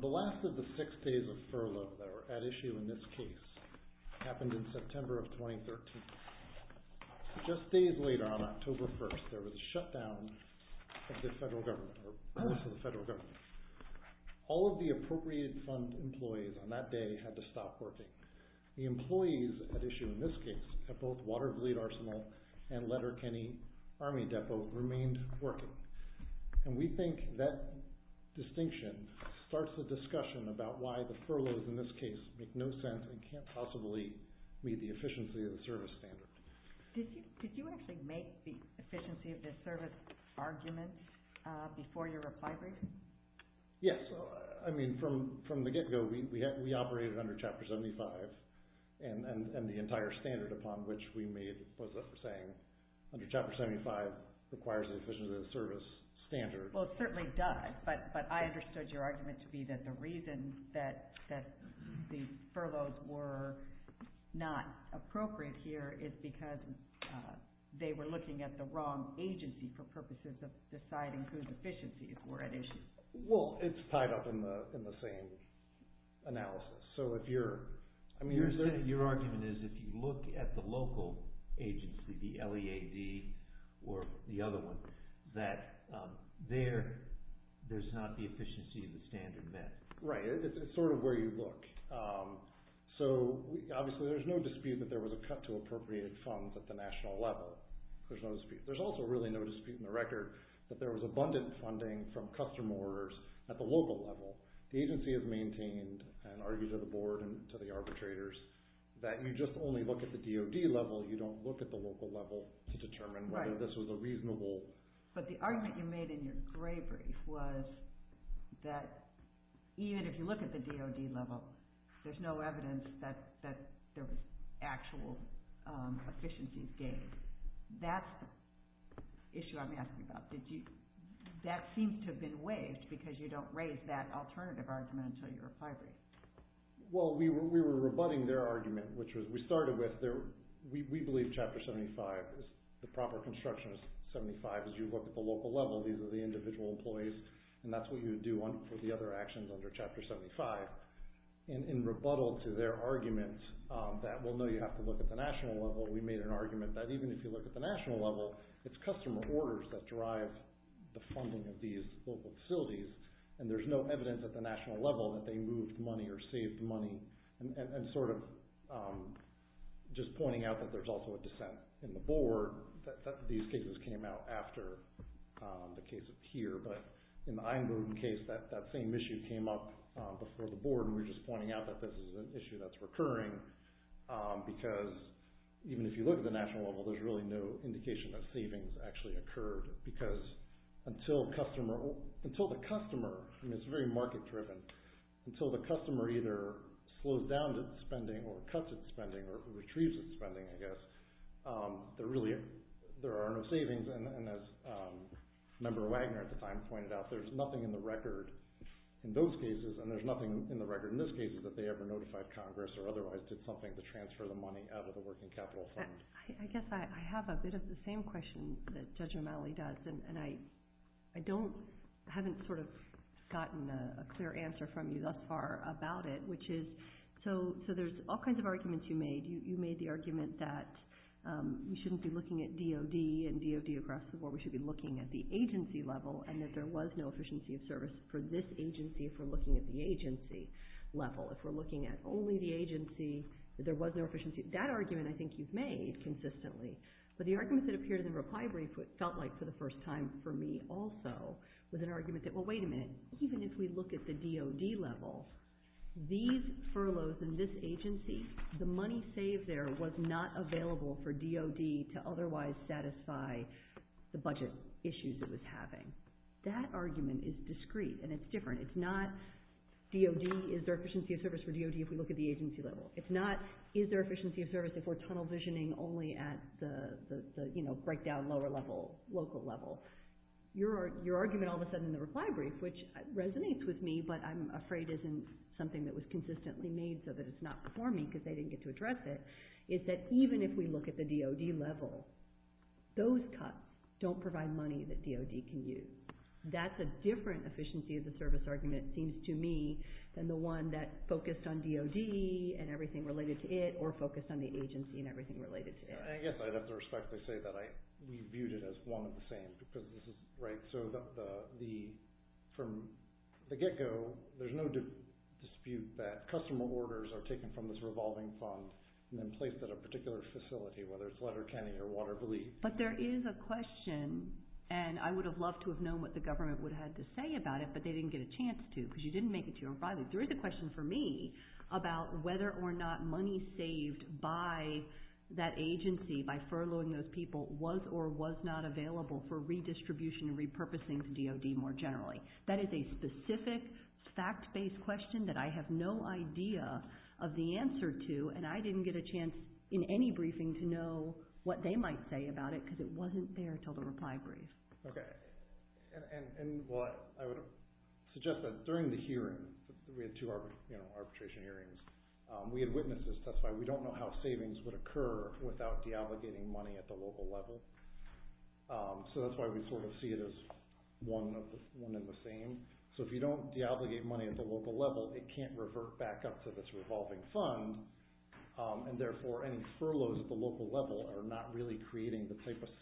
The last of the six days of furlough that are at issue in this case happened in September of 2013. Just days later, on October 1st, there was a shutdown of the federal government. All of the appropriated fund employees on that day had to stop working. The employees at issue in this case at both Watervliet Arsenal and Letterkenny Army Depot remained working. We think that distinction starts the discussion about why the furloughs in this case make no sense and can't possibly meet the efficiency of the service standard. Did you actually make the efficiency of the service argument before your reply briefing? Yes. I mean, from the get-go, we operated under Chapter 75, and the entire standard upon which we made was a saying, under Chapter 75 requires the efficiency of the service standard. Well, it certainly does, but I understood your argument to be that the reason that the appropriate here is because they were looking at the wrong agency for purposes of deciding whose efficiency is more at issue. Well, it's tied up in the same analysis. So if you're... I mean, is there... Your argument is if you look at the local agency, the LEAD or the other one, that there's not the efficiency of the standard met. Right. It's sort of where you look. So obviously, there's no dispute that there was a cut to appropriate funds at the national level. There's no dispute. There's also really no dispute in the record that there was abundant funding from customer orders at the local level. The agency has maintained and argued to the board and to the arbitrators that you just only look at the DOD level, you don't look at the local level to determine whether this was a reasonable... There's no evidence that there was actual efficiencies gained. That's the issue I'm asking about. Did you... That seems to have been waived because you don't raise that alternative argument until you're a fibrary. Well, we were rebutting their argument, which was we started with... We believe Chapter 75 is the proper construction of 75. As you look at the local level, these are the individual employees, and that's what you would do for the other actions under Chapter 75. In rebuttal to their argument that, well, no, you have to look at the national level, we made an argument that even if you look at the national level, it's customer orders that drive the funding of these local facilities, and there's no evidence at the national level that they moved money or saved money. Sort of just pointing out that there's also a dissent in the board that these cases came out after the case of here, but in the Einbroden case, that same issue came up before the board, and we're just pointing out that this is an issue that's recurring because even if you look at the national level, there's really no indication that savings actually occurred because until the customer... I mean, it's very market-driven. Until the customer either slows down its spending or cuts its spending or retrieves its spending, I guess, there are no savings, and as Member Wagner at the time pointed out, there's nothing in the record in those cases, and there's nothing in the record in this case that they ever notified Congress or otherwise did something to transfer the money out of the working capital fund. I guess I have a bit of the same question that Judge O'Malley does, and I haven't sort of gotten a clear answer from you thus far about it, which is, so there's all kinds of arguments that we shouldn't be looking at DOD and DOD across the board. We should be looking at the agency level and that there was no efficiency of service for this agency if we're looking at the agency level. If we're looking at only the agency, that there was no efficiency. That argument I think you've made consistently, but the arguments that appeared in the reply brief felt like for the first time for me also was an argument that, well, wait a minute. Even if we look at the DOD level, these furloughs in this agency, the money saved there was not available for DOD to otherwise satisfy the budget issues it was having. That argument is discreet, and it's different. It's not DOD, is there efficiency of service for DOD if we look at the agency level? It's not, is there efficiency of service if we're tunnel visioning only at the breakdown lower level, local level? Your argument all of a sudden in the reply brief, which resonates with me, but I'm afraid isn't something that was consistently made so that it's not performing because they didn't get to address it, is that even if we look at the DOD level, those cuts don't provide money that DOD can use. That's a different efficiency of the service argument, it seems to me, than the one that focused on DOD and everything related to it or focused on the agency and everything related to it. I guess I'd have to respectfully say that we viewed it as one and the same because this is, right, so from the get-go, there's no dispute that customer orders are taken from this revolving fund and then placed at a particular facility, whether it's Letterkenny or Water Belief. But there is a question, and I would have loved to have known what the government would have had to say about it, but they didn't get a chance to because you didn't make it to your reply. There is a question for me about whether or not money saved by that agency, by furloughing those people, was or was not available for redistribution and repurposing to DOD more generally. That is a specific fact-based question that I have no idea of the answer to, and I didn't get a chance in any briefing to know what they might say about it because it wasn't there until the reply brief. Okay. Well, I would suggest that during the hearing, we had two arbitration hearings, we had witnesses testify. We don't know how savings would occur without deobligating money at the local level, so that's why we sort of see it as one and the same. So if you don't deobligate money at the local level, it can't revert back up to this revolving fund, and therefore any furloughs at the local level are not really creating the type of situation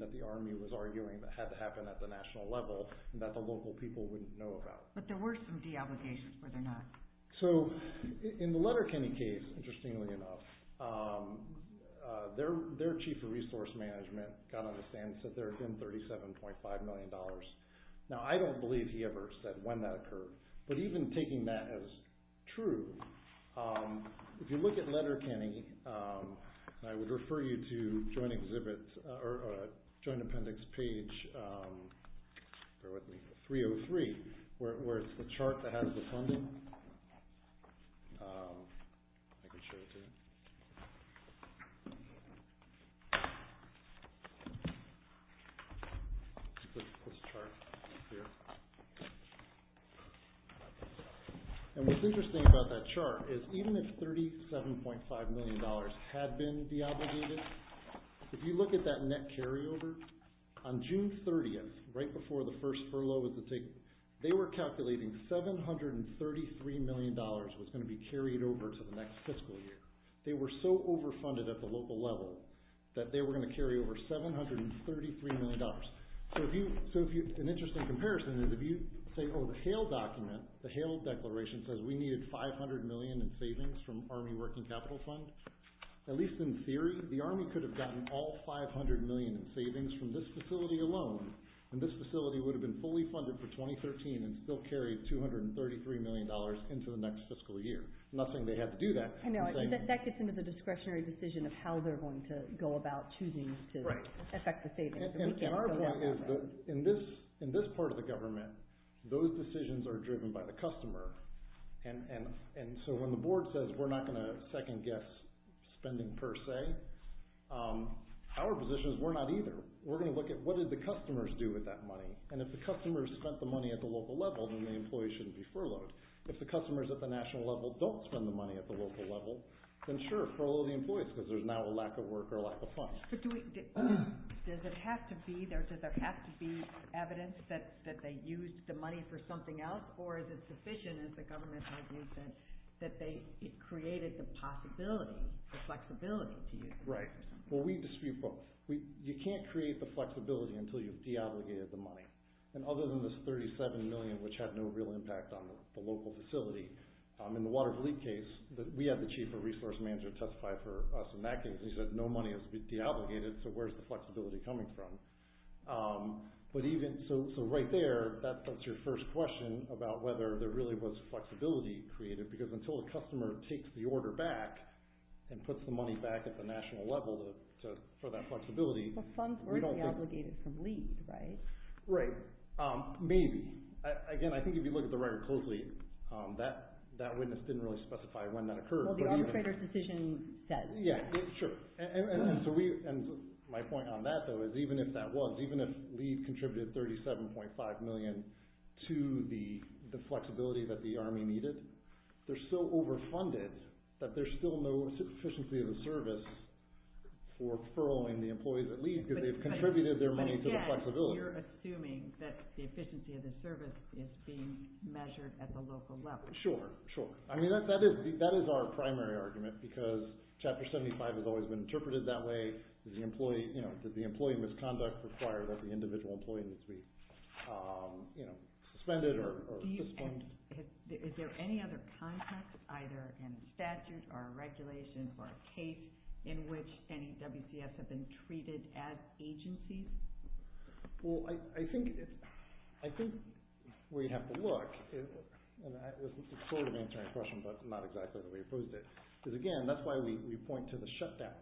that the Army was arguing that had to happen at the national level and that the local people wouldn't know about. But there were some deobligations, were there not? So, in the Letterkenny case, interestingly enough, their Chief of Resource Management, God understand, said there had been $37.5 million. Now, I don't believe he ever said when that occurred, but even taking that as true, if I may, I would refer you to Joint Appendix page 303, where it's the chart that has the funding. I can show it to you. This chart here. And what's interesting about that chart is even if $37.5 million had been deobligated, if you look at that net carryover, on June 30th, right before the first furlough was to take place, they were calculating $733 million was going to be carried over to the next fiscal year. They were so overfunded at the local level that they were going to carry over $733 million. So an interesting comparison is if you say, oh, the Hale document, the Hale Declaration says we needed $500 million in savings from Army Working Capital Fund, at least in theory, the Army could have gotten all $500 million in savings from this facility alone, and this facility would have been fully funded for 2013 and still carried $233 million into the next fiscal year. I'm not saying they had to do that. I know. That gets into the discretionary decision of how they're going to go about choosing to affect the savings. Right. And our point is that in this part of the government, those decisions are driven by the customer, and so when the board says we're not going to second-guess spending per se, our position is we're not either. We're going to look at what did the customers do with that money, and if the customers spent the money at the local level, then the employees shouldn't be furloughed. If the customers at the national level don't spend the money at the local level, then sure, furlough the employees because there's now a lack of work or a lack of funds. But does it have to be there? Or is it sufficient, as the government has used it, that they created the possibility, the flexibility to use it? Right. Well, we dispute both. You can't create the flexibility until you've deobligated the money. And other than this $37 million, which had no real impact on the local facility, in the Waterville case, we had the chief of resource manager testify for us in that case, and he said no money has to be deobligated, so where's the flexibility coming from? So right there, that's your first question about whether there really was flexibility created, because until the customer takes the order back and puts the money back at the national level for that flexibility, we don't think... Well, funds were deobligated from LEED, right? Right. Maybe. Again, I think if you look at the record closely, that witness didn't really specify when that occurred, but even... Well, the arbitrator's decision said that. Yeah, sure. And my point on that, though, is even if that was, even if LEED contributed $37.5 million to the flexibility that the Army needed, they're so overfunded that there's still no efficiency of the service for furloughing the employees at LEED, because they've contributed their money to the flexibility. But yet, you're assuming that the efficiency of the service is being measured at the local level. Sure, sure. I mean, that is our primary argument, because Chapter 75 has always been interpreted that way. Did the employee misconduct require that the individual employee needs to be suspended or suspended? Is there any other context, either in statute or regulation or a case, in which any WCS have been treated as agencies? Well, I think where you have to look, and this is sort of answering a question, but not exactly the way you posed it, is again, that's why we point to the shutdown.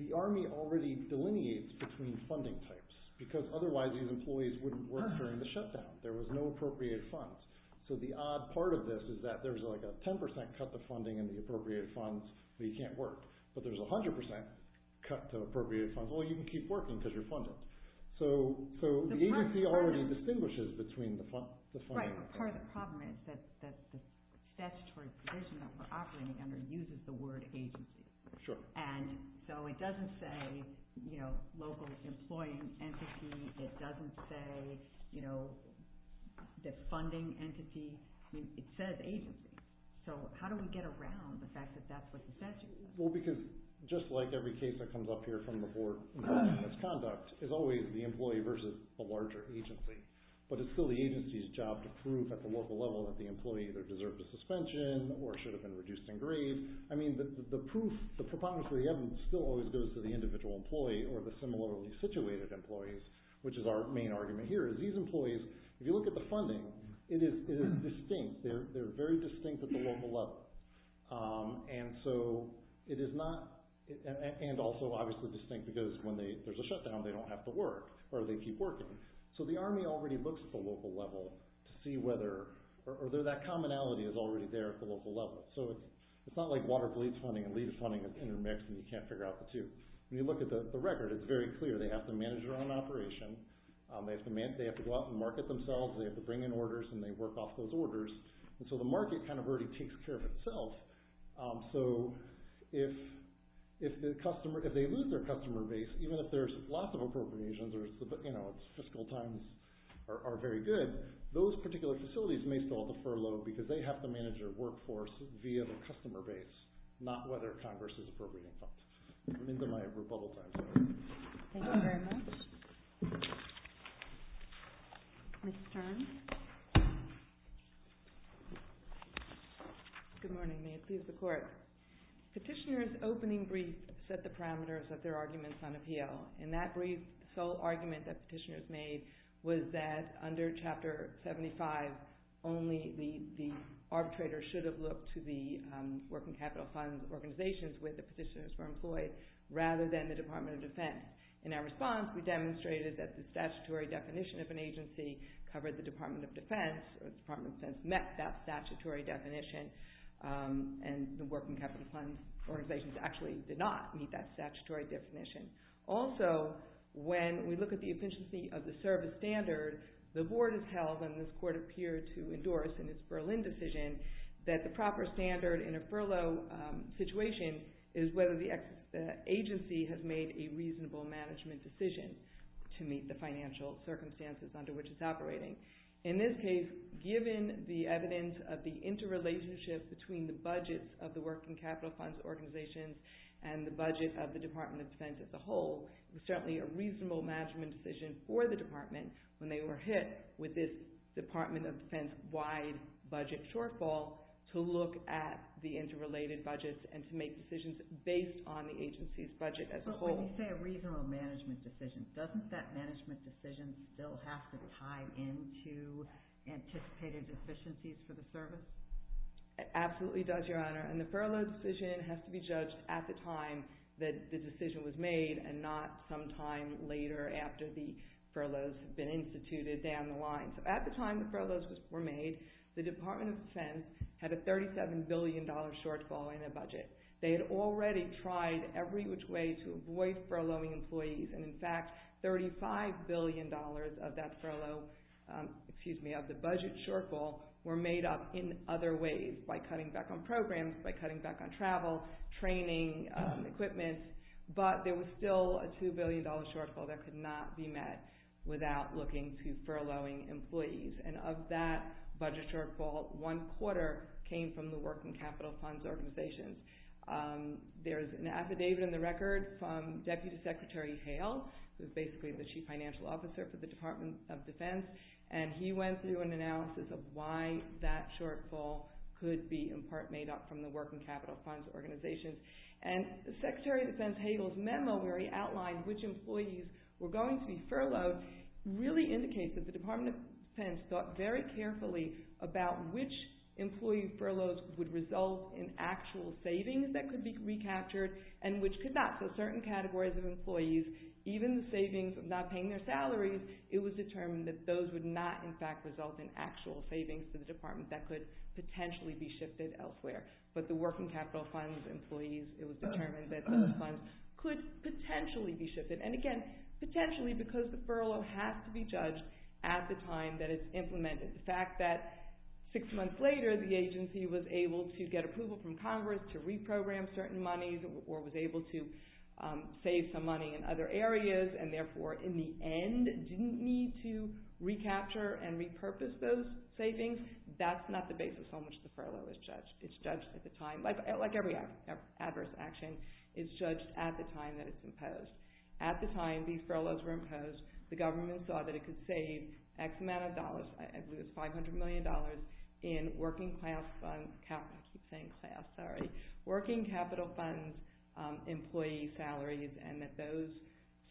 The Army already delineates between funding types, because otherwise these employees wouldn't work during the shutdown. There was no appropriated funds. So the odd part of this is that there's like a 10% cut to funding and the appropriated funds, but you can't work. But there's a 100% cut to appropriated funds. Well, you can keep working because you're funded. So the agency already distinguishes between the funding. Right, but part of the problem is that the statutory provision that we're operating under uses the word agency. Sure. And so it doesn't say, you know, local employing entity. It doesn't say, you know, the funding entity. I mean, it says agency. So how do we get around the fact that that's what the statute is? Well, because just like every case that comes up here from before misconduct is always the employee versus a larger agency. But it's still the agency's job to prove at the local level that the employee either deserved a suspension or should have been reduced in grade. I mean, the proof, the preponderance of the evidence still always goes to the individual employee or the similarly situated employees, which is our main argument here, is these employees, if you look at the funding, it is distinct. They're very distinct at the local level. And so it is not, and also obviously distinct because when there's a shutdown, they don't have to work or they keep working. So the Army already looks at the local level to see whether, or that commonality is already there at the local level. So it's not like water police funding and lead funding are intermixed and you can't figure out the two. When you look at the record, it's very clear. They have to manage their own operation. They have to go out and market themselves. They have to bring in orders and they work off those orders. And so the market kind of already takes care of itself. So if the customer, if they lose their customer base, even if there's lots of appropriations or it's fiscal times are very good, those particular facilities may still have to furlough because they have to manage their workforce via the customer base, not whether Congress is appropriating funds. I'm into my rebuttal time. Thank you very much. Ms. Stern. Good morning. May it please the Court. Petitioner's opening brief set the parameters of their arguments on appeal. And that brief sole argument that petitioners made was that under Chapter 75, only the arbitrator should have looked to the working capital fund organizations where the petitioners were in the Department of Defense. In our response, we demonstrated that the statutory definition of an agency covered the Department of Defense, or the Department of Defense met that statutory definition. And the working capital fund organizations actually did not meet that statutory definition. Also, when we look at the efficiency of the service standard, the Board has held, and this Court appeared to endorse in its Berlin decision, that the proper standard in a furlough situation is whether the agency has made a reasonable management decision to meet the financial circumstances under which it's operating. In this case, given the evidence of the interrelationship between the budgets of the working capital funds organizations and the budget of the Department of Defense as a whole, it was certainly a reasonable management decision for the Department when they were hit with this Department of budgets and to make decisions based on the agency's budget as a whole. But when you say a reasonable management decision, doesn't that management decision still have to tie into anticipated deficiencies for the service? It absolutely does, Your Honor. And the furlough decision has to be judged at the time that the decision was made and not some time later after the furloughs have been instituted down the line. So at the time the furloughs were made, the Department of Defense had a $37 billion shortfall in their budget. They had already tried every which way to avoid furloughing employees. And in fact, $35 billion of that furlough, excuse me, of the budget shortfall were made up in other ways, by cutting back on programs, by cutting back on travel, training, equipment. But there was still a $2 billion shortfall that could not be met without looking to furloughing employees. And of that budget shortfall, one quarter came from the Working Capital Funds Organizations. There's an affidavit in the record from Deputy Secretary Hale, who's basically the Chief Financial Officer for the Department of Defense. And he went through an analysis of why that shortfall could be in part made up from the Working Capital Funds Organizations. And Secretary of Defense Hale's memo where he outlined which employees were going to be furloughed really indicates that the Department of Defense thought very carefully about which employee furloughs would result in actual savings that could be recaptured and which could not. So certain categories of employees, even the savings of not paying their salaries, it was determined that those would not, in fact, result in actual savings for the department that could potentially be shifted elsewhere. But the Working Capital Funds employees, it was determined that those funds could potentially be shifted. And again, potentially because the furlough has to be judged at the time that it's implemented. The fact that six months later the agency was able to get approval from Congress to reprogram certain monies or was able to save some money in other areas and therefore in the end didn't need to recapture and repurpose those savings, that's not the basis on which the furlough is judged. It's judged at the time, like every adverse action, it's judged at the time that it's implemented. At the time these furloughs were imposed, the government saw that it could save X amount of dollars, I believe it's $500 million, in Working Capital Funds employee salaries and that those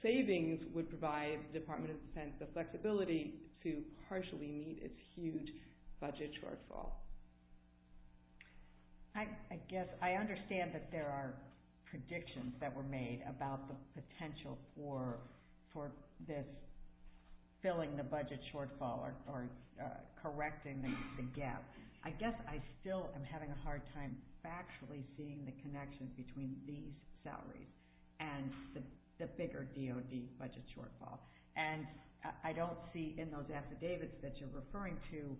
savings would provide the Department of Defense the flexibility to partially meet its huge budget shortfall. I guess I understand that there are predictions that were made about the potential for this filling the budget shortfall or correcting the gap. I guess I still am having a hard time factually seeing the connection between these salaries and the bigger DOD budget shortfall. I don't see in those affidavits that you're referring to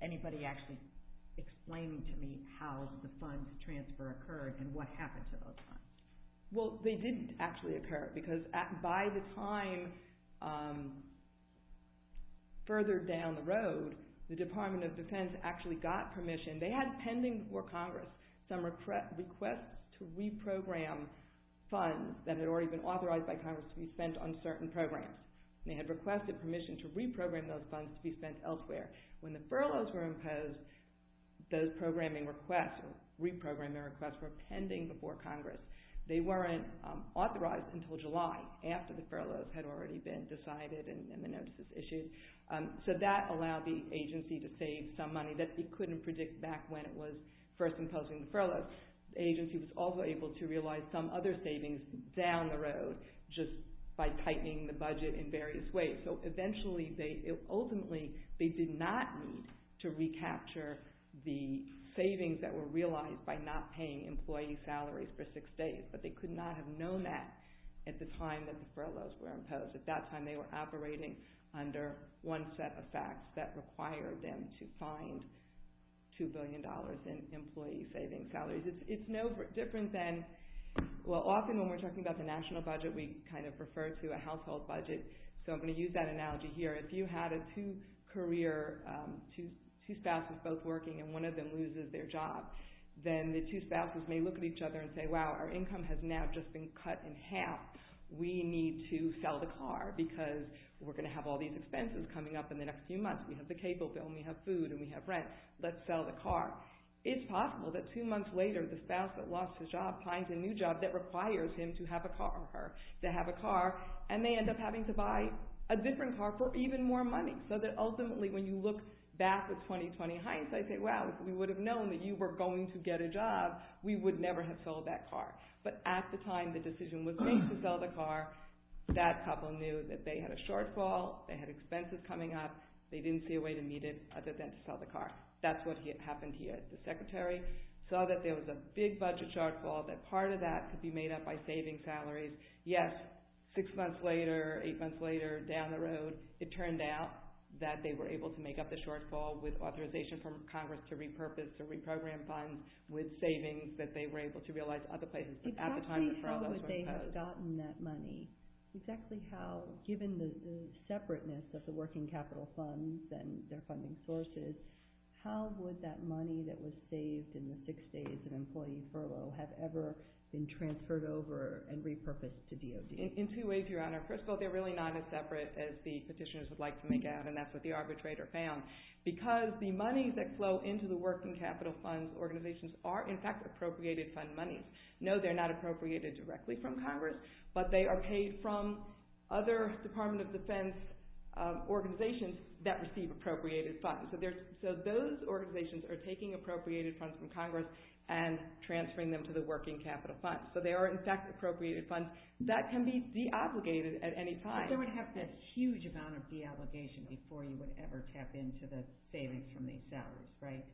anybody actually explaining to me how the funds transfer occurred and what happened to those funds. Well, they didn't actually occur because by the time further down the road, the Department of Defense actually got permission. They had pending before Congress some requests to reprogram funds that had already been authorized by Congress to be spent on certain programs. They had requested permission to reprogram those funds to be spent elsewhere. When the furloughs were imposed, those reprogramming requests were pending before Congress. They weren't authorized until July after the furloughs had already been decided and the notices issued. So that allowed the agency to save some money that it couldn't predict back when it was first imposing the furloughs. The agency was also able to realize some other savings down the road just by tightening the budget in various ways. So, ultimately, they did not need to recapture the savings that were realized by not paying employee salaries for six days, but they could not have known that at the time that the furloughs were imposed. At that time, they were operating under one set of facts that required them to find $2 billion savings salaries. It's no different than, well, often when we're talking about the national budget, we kind of refer to a household budget. So I'm going to use that analogy here. If you had a two-career, two spouses both working and one of them loses their job, then the two spouses may look at each other and say, wow, our income has now just been cut in half. We need to sell the car because we're going to have all these expenses coming up in the next few months. We have the cable bill and we have food and we have rent. Let's sell the car. It's possible that two months later, the spouse that lost his job finds a new job that requires him to have a car or her to have a car, and they end up having to buy a different car for even more money. So that ultimately, when you look back at 2020 hindsight, say, wow, if we would have known that you were going to get a job, we would never have sold that car. But at the time the decision was made to sell the car, that couple knew that they had a shortfall, they had expenses coming up, they didn't see a way to meet it other than to sell the car. That's what happened here. The Secretary saw that there was a big budget shortfall, that part of that could be made up by saving salaries. Yes, six months later, eight months later, down the road, it turned out that they were able to make up the shortfall with authorization from Congress to repurpose or reprogram funds with savings that they were able to realize other places. But at the time the problems were imposed. Exactly how would they have gotten that money? Exactly how, given the separateness of the working capital funds and their funding sources, how would that money that was saved in the six days of employee furlough have ever been transferred over and repurposed to DOD? In two ways, Your Honor. First of all, they're really not as separate as the petitioners would like to make out, and that's what the arbitrator found. Because the money that flow into the working capital funds organizations are, in fact, appropriated fund monies. No, they're not appropriated directly from Congress, but they are paid from other Department of Defense organizations that receive appropriated funds. So those organizations are taking appropriated funds from Congress and transferring them to the working capital funds. So they are, in fact, appropriated funds that can be deobligated at any time. But they would have to have a huge amount of deobligation before you would ever tap into the savings from these salaries, right?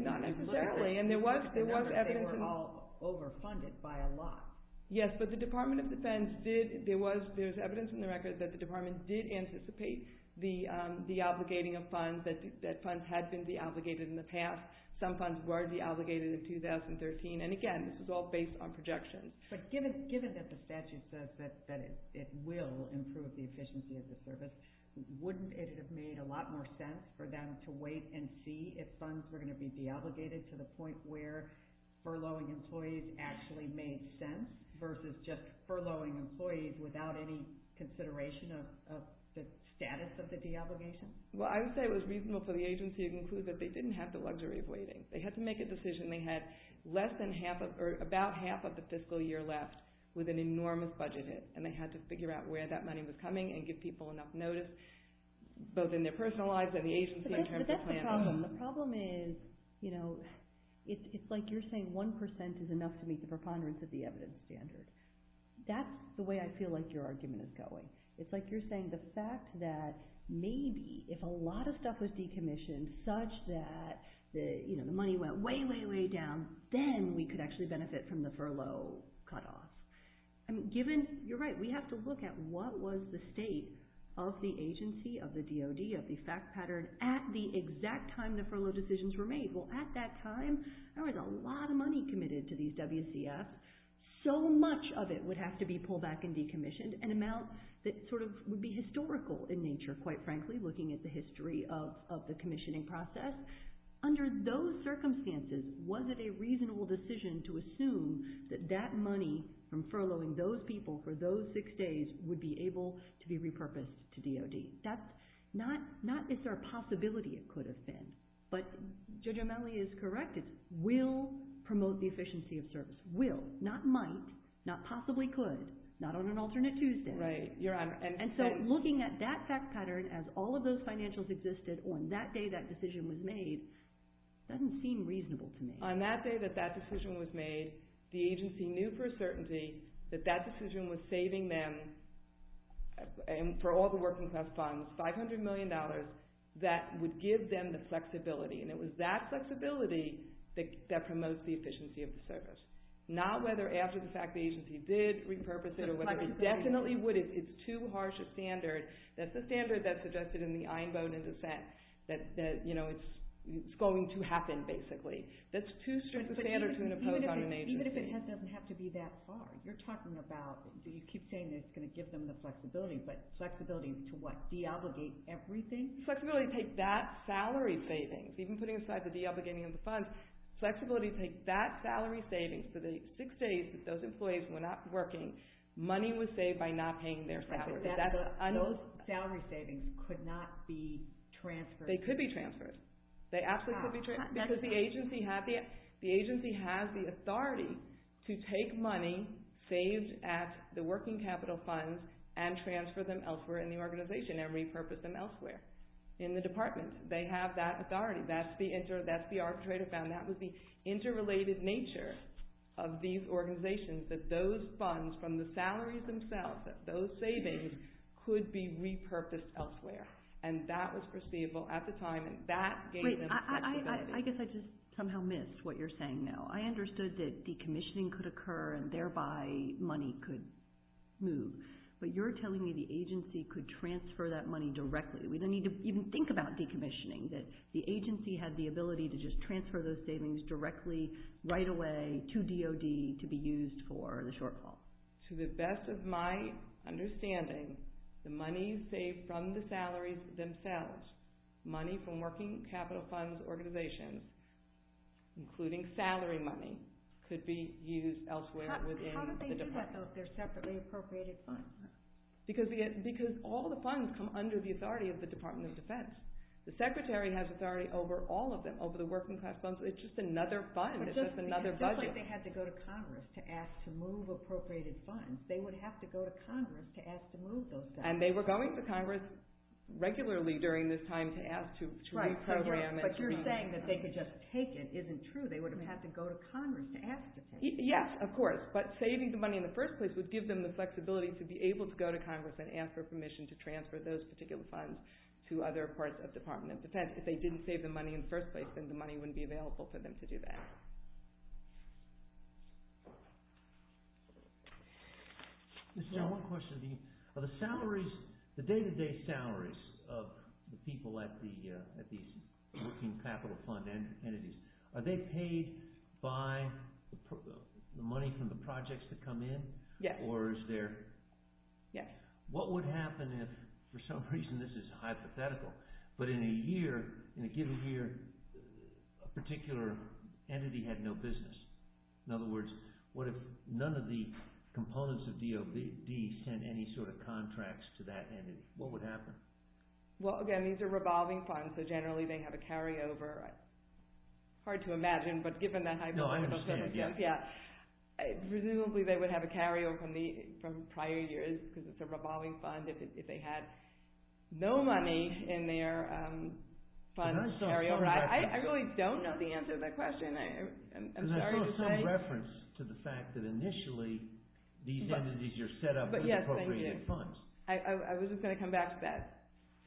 Not necessarily. They were all overfunded by a lot. Yes, but the Department of Defense, there's evidence in the record that the Department did anticipate the deobligating of funds, that funds had been deobligated in the past. Some funds were deobligated in 2013. And again, this was all based on projections. But given that the statute says that it will improve the efficiency of the service, wouldn't it have made a lot more sense for them to wait and see if funds were going to be deobligated to the point where furloughing employees actually made sense versus just furloughing employees without any consideration of the status of the deobligation? Well, I would say it was reasonable for the agency to conclude that they didn't have the luxury of waiting. They had to make a decision. They had less than half, or about half of the fiscal year left with an enormous budget hit. And they had to figure out where that money was coming and give people enough notice, both in their personal lives and the agency in terms of planning. But that's the problem. The problem is, you know, it's like you're saying 1% is enough to meet the preponderance of the evidence standard. That's the way I feel like your argument is going. It's like you're saying the fact that maybe if a lot of stuff was decommissioned such that the money went way, way, way down, then we could actually benefit from the furlough cutoff. I mean, given, you're right, we have to look at what was the state of the agency, of the time the furlough decisions were made. Well, at that time, there was a lot of money committed to these WCFs. So much of it would have to be pulled back and decommissioned, an amount that sort of would be historical in nature, quite frankly, looking at the history of the commissioning process. Under those circumstances, was it a reasonable decision to assume that that money from furloughing those people for those six days would be able to be repurposed to DOD? Not is there a possibility it could have been, but Judge O'Malley is correct. It's will promote the efficiency of service. Will, not might, not possibly could, not on an alternate Tuesday. Right. And so looking at that fact pattern as all of those financials existed on that day that decision was made, doesn't seem reasonable to me. On that day that that decision was made, the agency knew for a certainty that that decision was saving them, for all the working class funds, $500 million that would give them the flexibility. And it was that flexibility that promotes the efficiency of the service. Not whether after the fact the agency did repurpose it or whether they definitely would. It's too harsh a standard. That's the standard that's suggested in the iron bone in dissent that it's going to happen, That's too strict a standard to impose on an agency. Even if it doesn't have to be that far. You're talking about, you keep saying it's going to give them the flexibility, but flexibility is to what? Deobligate everything? Flexibility to take that salary savings. Even putting aside the deobligating of the funds, flexibility to take that salary savings for the six days that those employees were not working, money was saved by not paying Those salary savings could not be transferred. They could be transferred. They absolutely could be transferred because the agency has the authority to take money saved at the working capital funds and transfer them elsewhere in the organization and repurpose them elsewhere in the department. They have that authority. That's the arbitrator found. That was the interrelated nature of these organizations, that those funds from the salaries themselves, that those savings could be repurposed elsewhere. And that was perceivable at the time and that gave them flexibility. I guess I just somehow missed what you're saying now. I understood that decommissioning could occur and thereby money could move, but you're telling me the agency could transfer that money directly. We don't need to even think about decommissioning, that the agency had the ability to just transfer those savings directly right away to DOD to be used for the shortfall. To the best of my understanding, the money saved from the salaries themselves, money from working capital funds organizations, including salary money, could be used elsewhere within the department. How did they do that, though, if they're separately appropriated funds? Because all the funds come under the authority of the Department of Defense. The secretary has authority over all of them, over the working class funds. It's just another fund. It's just another budget. It's not like they had to go to Congress to ask to move appropriated funds. They would have to go to Congress to ask to move those funds. And they were going to Congress regularly during this time to ask to reprogram. But you're saying that they could just take it isn't true. They would have had to go to Congress to ask to take it. Yes, of course. But saving the money in the first place would give them the flexibility to be able to go to Congress and ask for permission to transfer those particular funds to other parts of the Department of Defense. If they didn't save the money in the first place, then the money wouldn't be available for them to do that. I have one question. Are the salaries, the day-to-day salaries of the people at these working capital fund entities, are they paid by the money from the projects that come in? Yes. Or is there... Yes. What would happen if, for some reason, this is hypothetical, but in a year, in a given year, a particular entity had no business? In other words, what if none of the components of DOD sent any sort of contracts to that entity? What would happen? Well, again, these are revolving funds. So generally, they have a carryover. Hard to imagine, but given the hypothetical... No, I understand. Yeah. Yeah. Presumably, they would have a carryover from prior years because it's a revolving fund. If they had no money in their fund carryover, I really don't know the answer to that question. I'm sorry to say... Because I saw some reference to the fact that, initially, these entities are set up with appropriated funds. Yes, thank you. I was just going to come back to that. I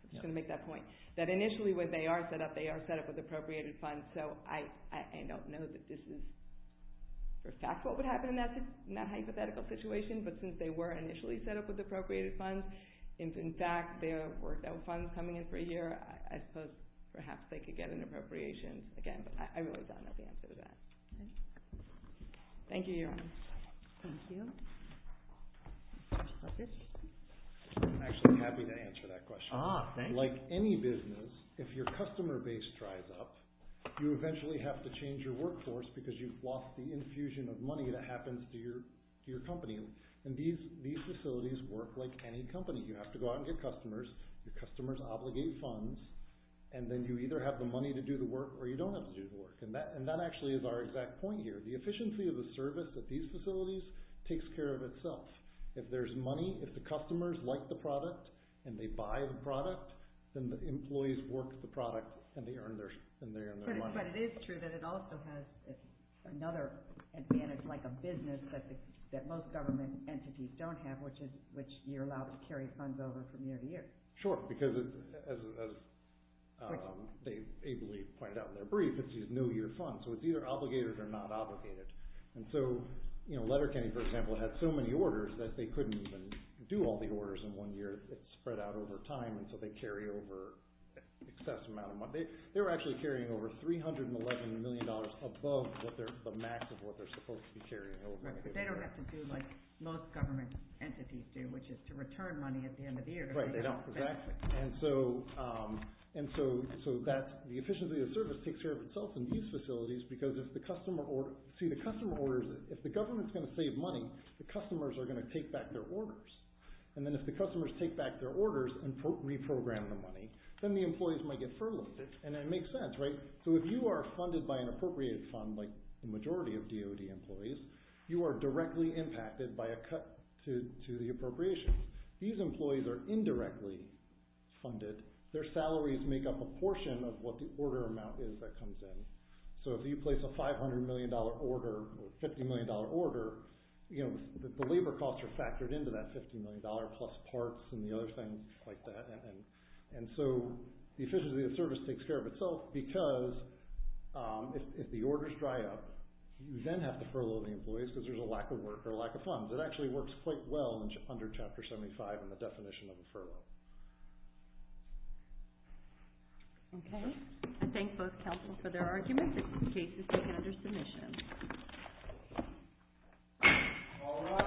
was just going to make that point. That, initially, when they are set up, they are set up with appropriated funds. So I don't know that this is, for a fact, what would happen in that hypothetical situation. But since they were, initially, set up with appropriated funds, if, in fact, there were no funds coming in for a year, I suppose, perhaps, they could get an appropriation. Again, I really don't know the answer to that. Thank you, Your Honor. Thank you. Justice? I'm actually happy to answer that question. Ah, thanks. Like any business, if your customer base dries up, you eventually have to change your workforce because you've lost the infusion of money that happens to your company. And these facilities work like any company. You have to go out and get customers. Your customers obligate funds. And then you either have the money to do the work or you don't have to do the work. And that, actually, is our exact point here. The efficiency of the service at these facilities takes care of itself. If there's money, if the customers like the product and they buy the product, then the employees work the product and they earn their money. But it is true that it also has another advantage, like a business, that most government entities don't have, which you're allowed to carry funds over from year to year. Sure. Because, as they ably pointed out in their brief, it's these new year funds. So it's either obligated or not obligated. And so, you know, Letterkenny, for example, had so many orders that they couldn't even do all the orders in one year. It spread out over time, and so they carry over an excess amount of money. They were actually carrying over $311 million above the max of what they're supposed to be carrying. Right, but they don't have to do like most government entities do, which is to return money at the end of the year. Right, they don't. Exactly. And so the efficiency of the service takes care of itself in these facilities because if the customer orders... See, the customer orders... If the government's going to save money, the customers are going to take back their orders. And then if the customers take back their orders and reprogram the money, then the employees might get furloughed. And it makes sense, right? So if you are funded by an appropriated fund like the majority of DOD employees, you are directly impacted by a cut to the appropriations. These employees are indirectly funded. Their salaries make up a portion of what the order amount is that comes in. So if you place a $500 million order or $50 million order, you know, the labor costs are factored into that $50 million plus parts and the other things like that. And so the efficiency of the service takes care of itself because if the orders dry up, you then have to furlough the employees because there's a lack of work or a lack of funds. It actually works quite well under Chapter 75 in the definition of a furlough. Okay. I thank both counsel for their arguments. This case is taken under submission. All rise.